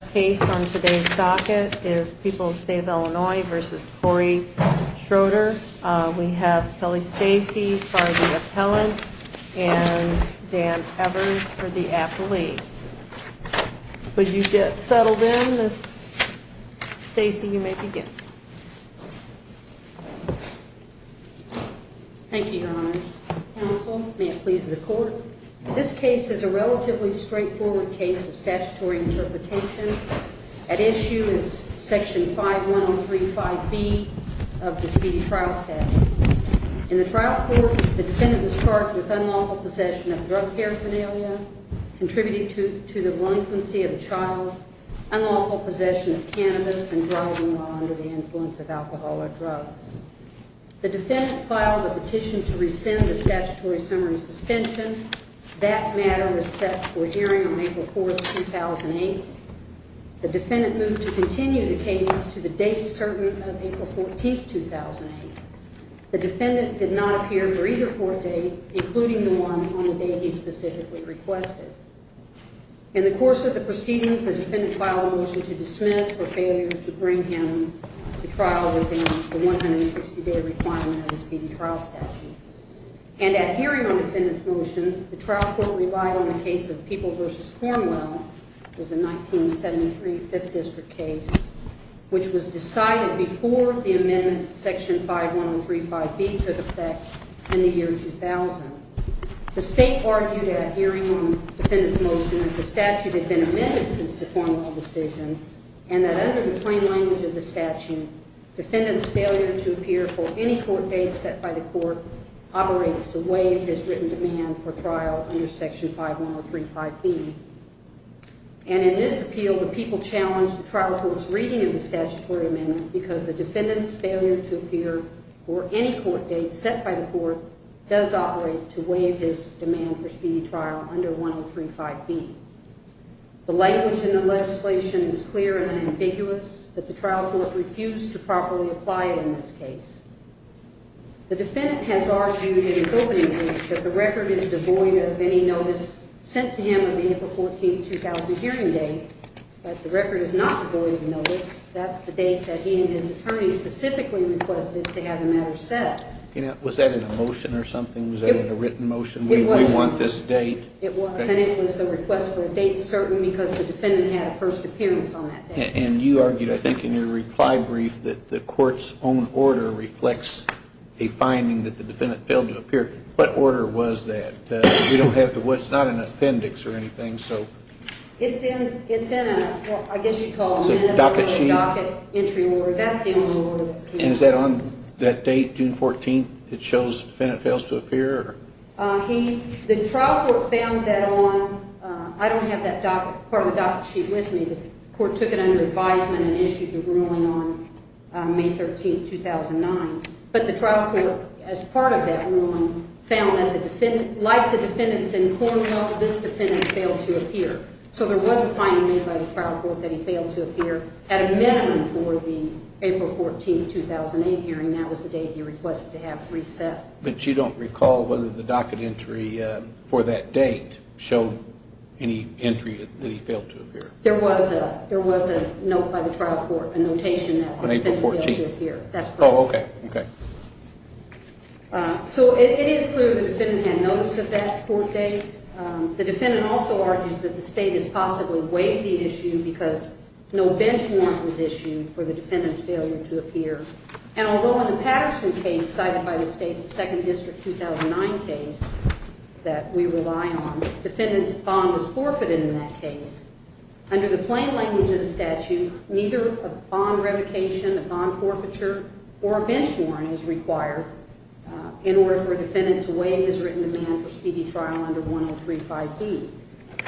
The case on today's docket is People's State of Illinois v. Cory Schroeder. We have Kelly Stacey for the appellant and Dan Evers for the affilee. Would you get settled in, Ms. Stacey? You may begin. Thank you, Your Honors. Counsel, may it please the Court, this case is a relatively straightforward case of statutory interpretation. At issue is section 51035B of the speedy trial statute. In the trial court, the defendant was charged with unlawful possession of drug paraphernalia, contributing to the relinquency of a child, unlawful possession of cannabis, and driving while under the influence of alcoholic drugs. The defendant filed a petition to rescind the statutory summary suspension. That matter was set for hearing on April 4, 2008. The defendant moved to continue the case to the date certain of April 14, 2008. The defendant did not appear for either court date, including the one on the day he specifically requested. In the course of the proceedings, the defendant filed a motion to dismiss for failure to bring him to trial within the 160-day requirement of the speedy trial statute. And at hearing on the defendant's motion, the trial court relied on the case of People v. Cornwell. It was a 1973 5th District case, which was decided before the amendment to section 51035B took effect in the year 2000. The State argued at hearing on the defendant's motion that the statute had been amended since the Cornwell decision, and that under the plain language of the statute, defendant's failure to appear for any court date set by the court operates to waive his written demand for trial under section 51035B. And in this appeal, the people challenged the trial court's reading of the statutory amendment because the defendant's failure to appear for any court date set by the court does operate to waive his demand for speedy trial under 1035B. The language in the legislation is clear and ambiguous, but the trial court refused to properly apply it in this case. The defendant has argued in his opening remarks that the record is devoid of any notice sent to him on the April 14, 2000 hearing date. But the record is not devoid of notice. That's the date that he and his attorney specifically requested to have the matter set. Was that in a motion or something? Was that in a written motion? It was. We want this date. It was, and it was a request for a date certain because the defendant had a first appearance on that date. And you argued, I think, in your reply brief that the court's own order reflects a finding that the defendant failed to appear. What order was that? We don't have to, it's not an appendix or anything, so. It's in, it's in a, well, I guess you'd call it a docket sheet. A docket entry award. That's the award. And is that on that date, June 14th, that shows the defendant fails to appear? He, the trial court found that on, I don't have that part of the docket sheet with me. The court took it under advisement and issued the ruling on May 13, 2009. But the trial court, as part of that ruling, found that the defendant, like the defendants in Cornwell, this defendant failed to appear. So there was a finding made by the trial court that he failed to appear at a minimum for the April 14, 2008 hearing. That was the date he requested to have reset. But you don't recall whether the docket entry for that date showed any entry that he failed to appear. There was a, there was a note by the trial court, a notation that the defendant failed to appear. On April 14th. That's correct. Oh, okay, okay. So it is clear the defendant had notice of that court date. The defendant also argues that the state has possibly waived the issue because no bench warrant was issued for the defendants failure to appear. And although in the Patterson case cited by the state, the second district 2009 case that we rely on, the defendant's bond was forfeited in that case. Under the plain language of the statute, neither a bond revocation, a bond forfeiture, or a bench warrant is required in order for a defendant to waive his written demand for speedy trial under 103-5B.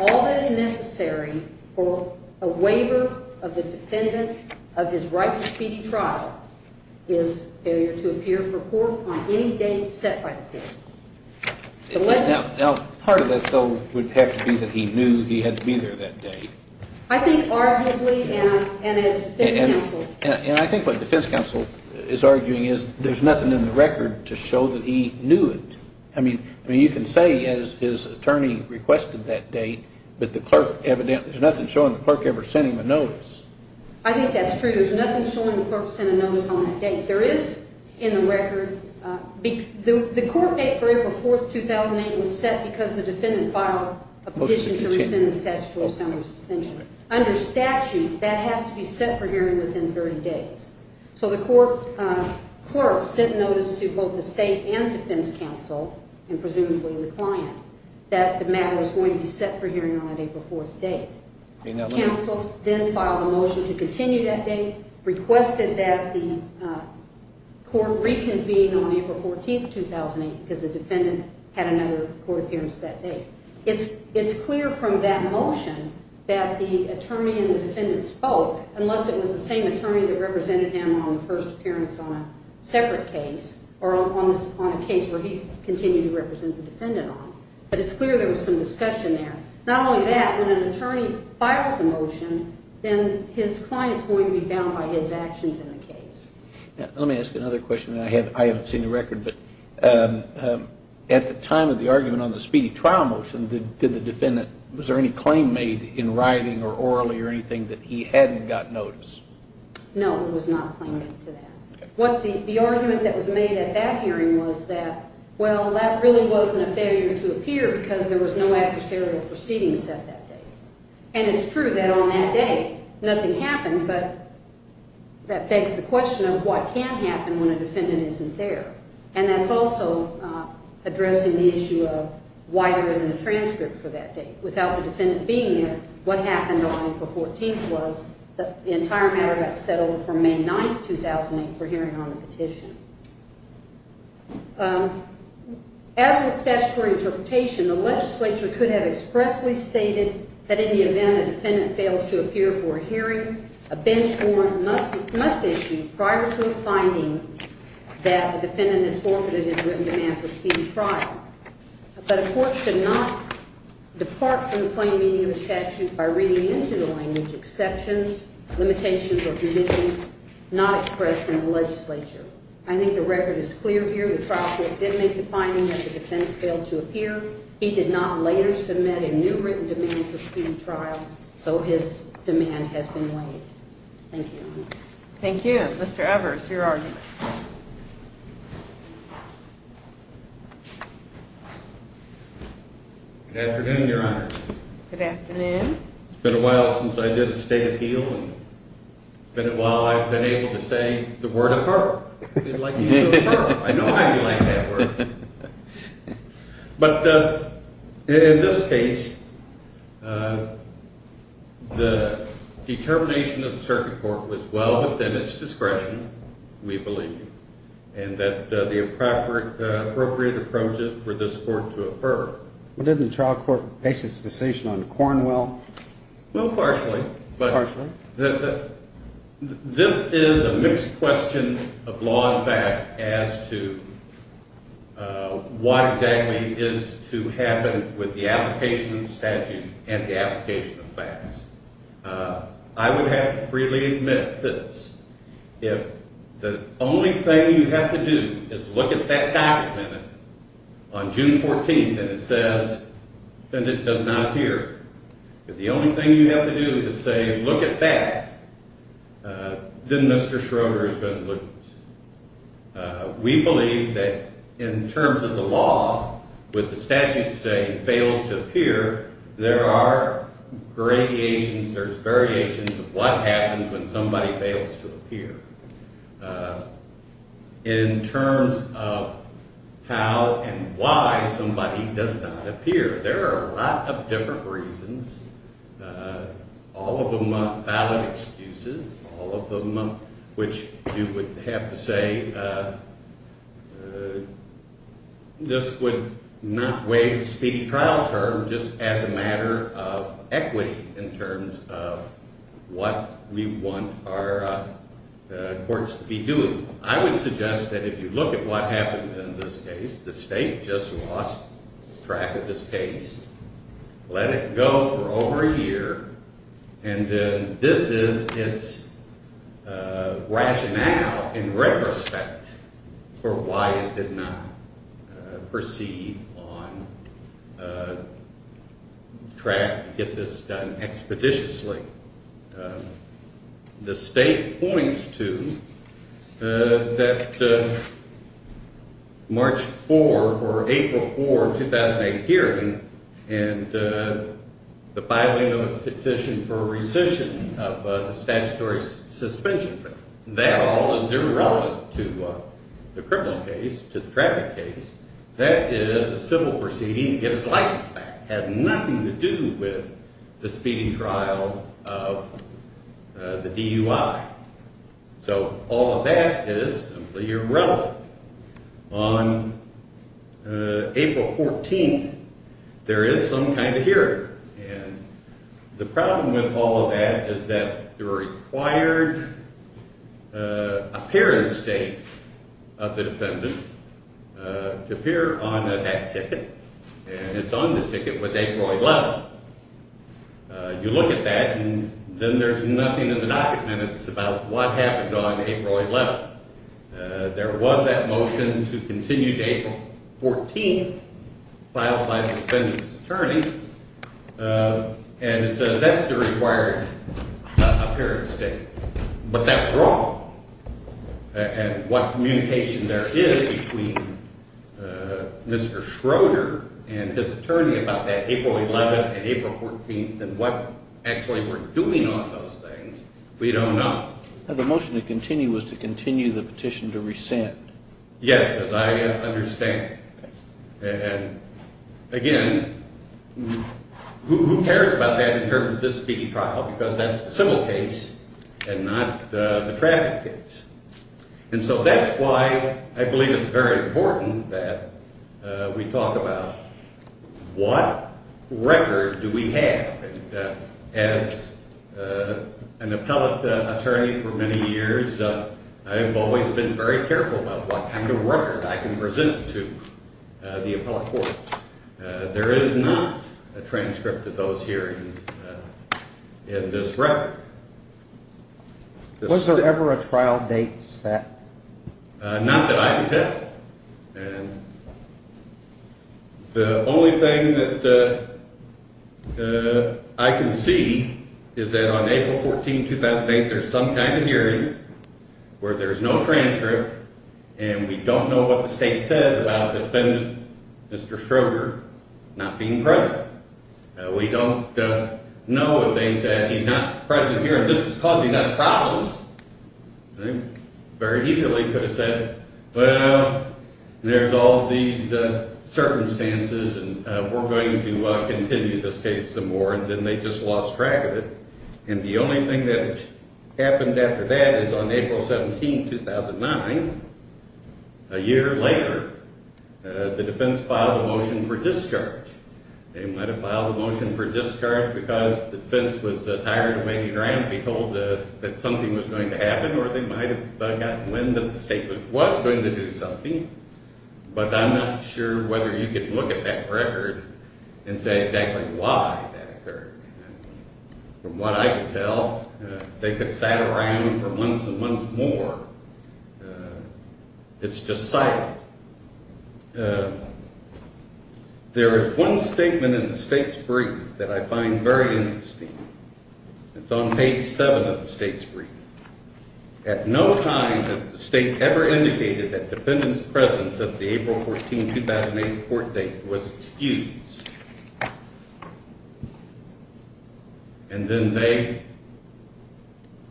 All that is necessary for a waiver of the defendant of his right to speedy trial is failure to appear for court on any date set by the court. Now, part of that, though, would have to be that he knew he had to be there that day. I think arguably, and as defense counsel. And I think what defense counsel is arguing is there's nothing in the record to show that he knew it. I mean, you can say his attorney requested that date, but there's nothing showing the clerk ever sent him a notice. I think that's true. There's nothing showing the clerk sent a notice on that date. There is, in the record, the court date for April 4, 2008 was set because the defendant filed a petition to rescind the statute. Under statute, that has to be set for hearing within 30 days. So the court clerk sent notice to both the state and defense counsel, and presumably the client, that the matter was going to be set for hearing on an April 4 date. Counsel then filed a motion to continue that date, requested that the court reconvene on April 14, 2008 because the defendant had another court appearance that day. It's clear from that motion that the attorney and the defendant spoke, unless it was the same attorney that represented him on the first appearance on a separate case or on a case where he continued to represent the defendant on. But it's clear there was some discussion there. Not only that, when an attorney files a motion, then his client is going to be bound by his actions in the case. Let me ask another question, and I haven't seen the record, but at the time of the argument on the speedy trial motion, did the defendant, was there any claim made in writing or orally or anything that he hadn't gotten notice? No, there was not a claim made to that. The argument that was made at that hearing was that, well, that really wasn't a failure to appear because there was no adversarial proceedings set that day. And it's true that on that day, nothing happened, but that begs the question of what can happen when a defendant isn't there. And that's also addressing the issue of why there isn't a transcript for that day. Without the defendant being there, what happened on April 14th was that the entire matter got settled for May 9th, 2008 for hearing on the petition. As with statutory interpretation, the legislature could have expressly stated that in the event a defendant fails to appear for a hearing, a bench warrant must be issued prior to a finding that the defendant has forfeited his written demand for speedy trial. But a court should not depart from the plain meaning of a statute by reading into the language exceptions, limitations, or conditions not expressed in the legislature. I think the record is clear here. The trial court did make the finding that the defendant failed to appear. He did not later submit a new written demand for speedy trial, so his demand has been waived. Thank you, Your Honor. Thank you. Mr. Evers, your argument. Good afternoon, Your Honor. Good afternoon. It's been a while since I did a state appeal, and it's been a while I've been able to say the word, affirm. I know how you like that word. But in this case, the determination of the circuit court was well within its discretion, we believe, and that the appropriate approaches were this court to affirm. Well, didn't the trial court base its decision on Cornwell? Well, partially. Partially? This is a mixed question of law and fact as to what exactly is to happen with the application of the statute and the application of facts. I would have to freely admit this. If the only thing you have to do is look at that document on June 14th and it says defendant does not appear, if the only thing you have to do is say look at that, then Mr. Schroeder is going to lose. We believe that in terms of the law, with the statute saying fails to appear, there are variations of what happens when somebody fails to appear. In terms of how and why somebody does not appear, there are a lot of different reasons, all of them valid excuses, all of them which you would have to say this would not waive the speedy trial term just as a matter of equity in terms of what we want our courts to be doing. I would suggest that if you look at what happened in this case, the state just lost track of this case. Let it go for over a year, and this is its rationale in retrospect for why it did not proceed on track to get this done expeditiously. The state points to that March 4 or April 4, 2008 hearing and the filing of a petition for rescission of the statutory suspension. That all is irrelevant to the criminal case, to the traffic case. That is a civil proceeding to get its license back. It has nothing to do with the speedy trial of the DUI. So all of that is simply irrelevant. On April 14, there is some kind of hearing. The problem with all of that is that the required appearance date of the defendant to appear on that ticket, and it is on the ticket, was April 11. You look at that, and then there is nothing in the documents about what happened on April 11. There was that motion to continue to April 14 filed by the defendant's attorney, and it says that is the required appearance date. But that is wrong, and what communication there is between Mr. Schroeder and his attorney about that April 11 and April 14 and what actually we are doing on those things, we do not know. The motion to continue was to continue the petition to rescind. Yes, as I understand. Again, who cares about that in terms of the speedy trial because that is the civil case and not the traffic case. And so that is why I believe it is very important that we talk about what record do we have. As an appellate attorney for many years, I have always been very careful about what kind of record I can present to the appellate court. There is not a transcript of those hearings in this record. Was there ever a trial date set? Not that I can tell. The only thing that I can see is that on April 14, 2008, there is some kind of hearing where there is no transcript, and we do not know what the state says about the defendant, Mr. Schroeder, not being present. We do not know what they said. He is not present here and this is causing us problems. They very easily could have said, well, there is all these circumstances and we are going to continue this case some more, and then they just lost track of it. And the only thing that happened after that is on April 17, 2009, a year later, the defense filed a motion for discharge. They might have filed a motion for discharge because the defense was tired of waiting around to be told that something was going to happen or they might have gotten wind that the state was going to do something. But I am not sure whether you can look at that record and say exactly why that occurred. From what I can tell, they could have sat around for months and months more. It is just silent. There is one statement in the state's brief that I find very interesting. It is on page 7 of the state's brief. At no time has the state ever indicated that defendants' presence at the April 14, 2008 court date was excused. And then they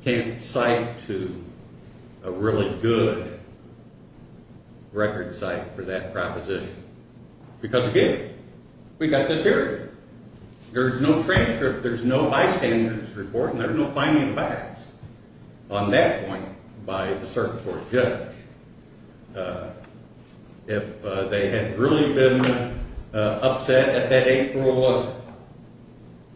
came to cite to a really good record cite for that proposition. Because, again, we got this here. There is no transcript. There is no bystanders report. And there is no finding of facts on that point by the circuit court judge. If they had really been upset at that April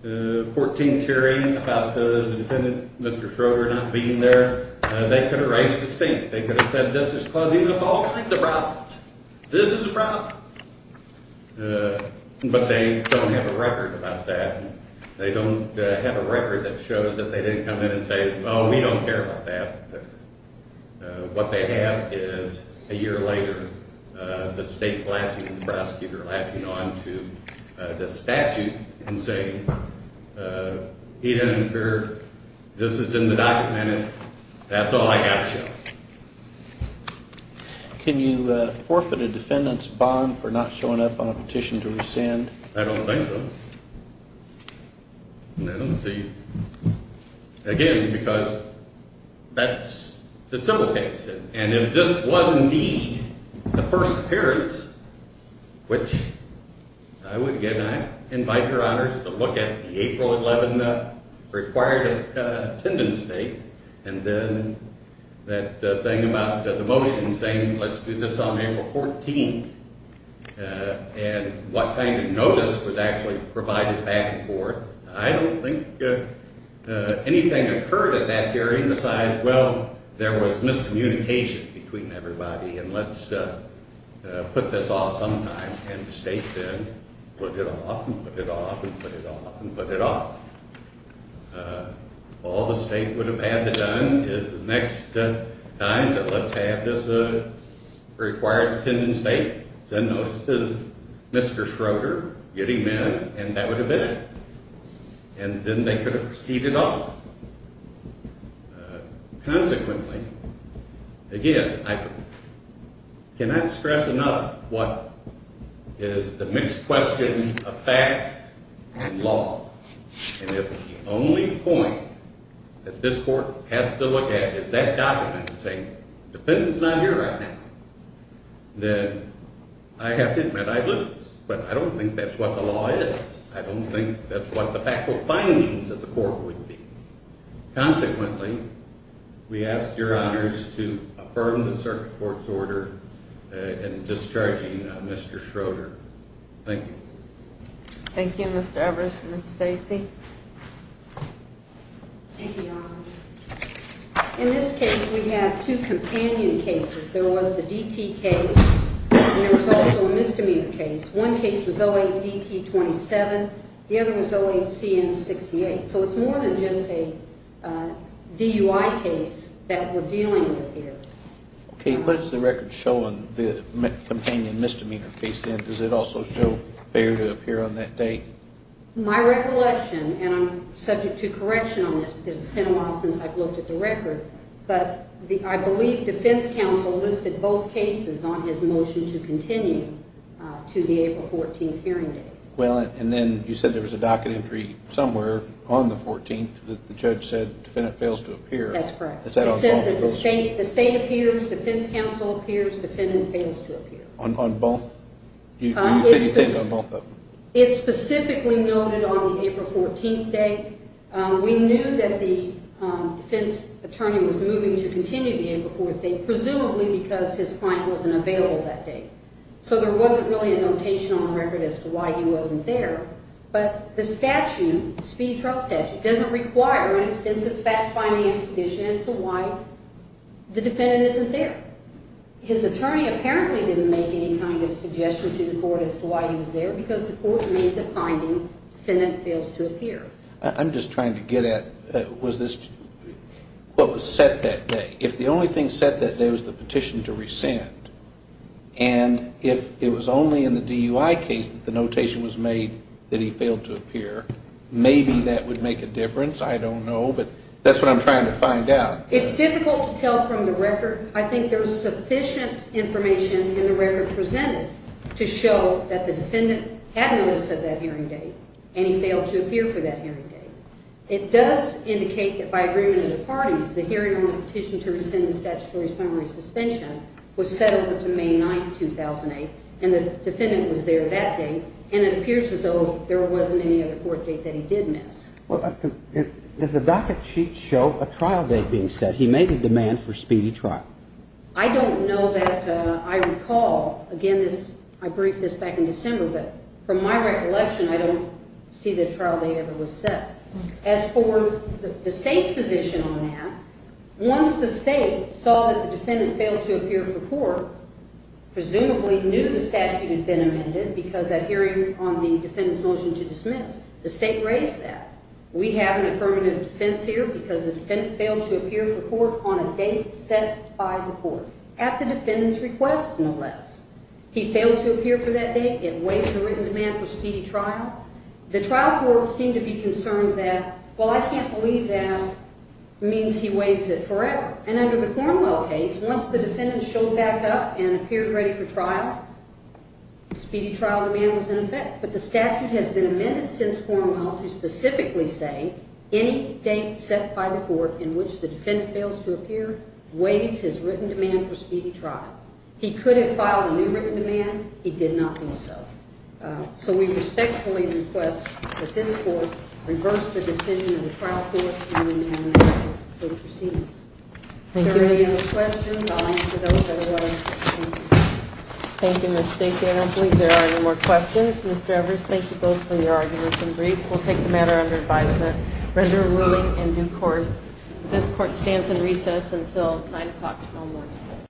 14 hearing about the defendant, Mr. Stroger, not being there, they could have raised the statement. They could have said this is causing us all kinds of problems. This is the problem. But they don't have a record about that. They don't have a record that shows that they didn't come in and say, well, we don't care about that. What they have is, a year later, the state prosecutor latching on to the statute and saying, he didn't occur. This is in the document. That's all I got to show. Can you forfeit a defendant's bond for not showing up on a petition to rescind? I don't think so. Again, because that's the civil case. And if this was indeed the first appearance, which I would invite your honors to look at the April 11 required attendance date, and then that thing about the motion saying let's do this on April 14th, and what kind of notice was actually provided back and forth, I don't think anything occurred at that hearing besides, well, there was miscommunication between everybody, and let's put this off sometime, and the state then put it off and put it off and put it off and put it off. All the state would have had to have done is the next time that let's have this required attendance date, send notice to Mr. Schroeder, get him in, and that would have been it. And then they could have proceeded on. Consequently, again, I cannot stress enough what is the mixed question of fact and law. And if the only point that this court has to look at is that document saying the defendant's not here right now, then I have to admit I lose. But I don't think that's what the law is. I don't think that's what the factual findings of the court would be. Consequently, we ask your honors to affirm the circuit court's order in discharging Mr. Schroeder. Thank you. Thank you, Mr. Evers and Ms. Stacy. Thank you, your honors. In this case, we have two companion cases. There was the DT case, and there was also a misdemeanor case. One case was 08-DT-27. The other was 08-CM-68. So it's more than just a DUI case that we're dealing with here. Okay, what does the record show on the companion misdemeanor case then? Does it also show failure to appear on that date? My recollection, and I'm subject to correction on this because it's been a while since I've looked at the record, but I believe defense counsel listed both cases on his motion to continue to the April 14th hearing date. Well, and then you said there was a docket entry somewhere on the 14th that the judge said defendant fails to appear. That's correct. Is that on both? It said that the state appears, defense counsel appears, defendant fails to appear. On both? Do you think it's on both of them? It's specifically noted on the April 14th date. We knew that the defense attorney was moving to continue the April 14th date, presumably because his client wasn't available that day. So there wasn't really a notation on the record as to why he wasn't there. But the statute, the speedy trial statute, doesn't require an extensive fact-finding expedition as to why the defendant isn't there. His attorney apparently didn't make any kind of suggestion to the court as to why he was there because the court made the finding defendant fails to appear. I'm just trying to get at what was set that day. If the only thing set that day was the petition to rescind, and if it was only in the DUI case that the notation was made that he failed to appear, maybe that would make a difference. I don't know, but that's what I'm trying to find out. It's difficult to tell from the record. I think there's sufficient information in the record presented to show that the defendant had notice of that hearing date, and he failed to appear for that hearing date. It does indicate that by agreement of the parties, the hearing on the petition to rescind the statutory summary suspension was set over to May 9th, 2008, and the defendant was there that day, and it appears as though there wasn't any other court date that he did miss. Does the docket sheet show a trial date being set? He made the demand for speedy trial. I don't know that I recall. Again, I briefed this back in December, but from my recollection, I don't see the trial date ever was set. As for the State's position on that, once the State saw that the defendant failed to appear for court, presumably knew the statute had been amended because that hearing on the defendant's motion to dismiss, the State raised that. We have an affirmative defense here because the defendant failed to appear for court on a date set by the court, at the defendant's request, no less. He failed to appear for that date. It waives the written demand for speedy trial. The trial court seemed to be concerned that, well, I can't believe that means he waives it forever. And under the Cornwell case, once the defendant showed back up and appeared ready for trial, speedy trial demand was in effect. But the statute has been amended since Cornwell to specifically say, any date set by the court in which the defendant fails to appear waives his written demand for speedy trial. He could have filed a new written demand. He did not do so. So we respectfully request that this court reverse the decision of the trial court and amend the statute for the proceedings. Are there any other questions? I'll answer those. Thank you, Ms. Stacy. I don't believe there are any more questions. Ms. Drevers, thank you both for your arguments and briefs. We'll take the matter under advisement. Resume ruling in due course. This court stands in recess until 9 o'clock tomorrow morning.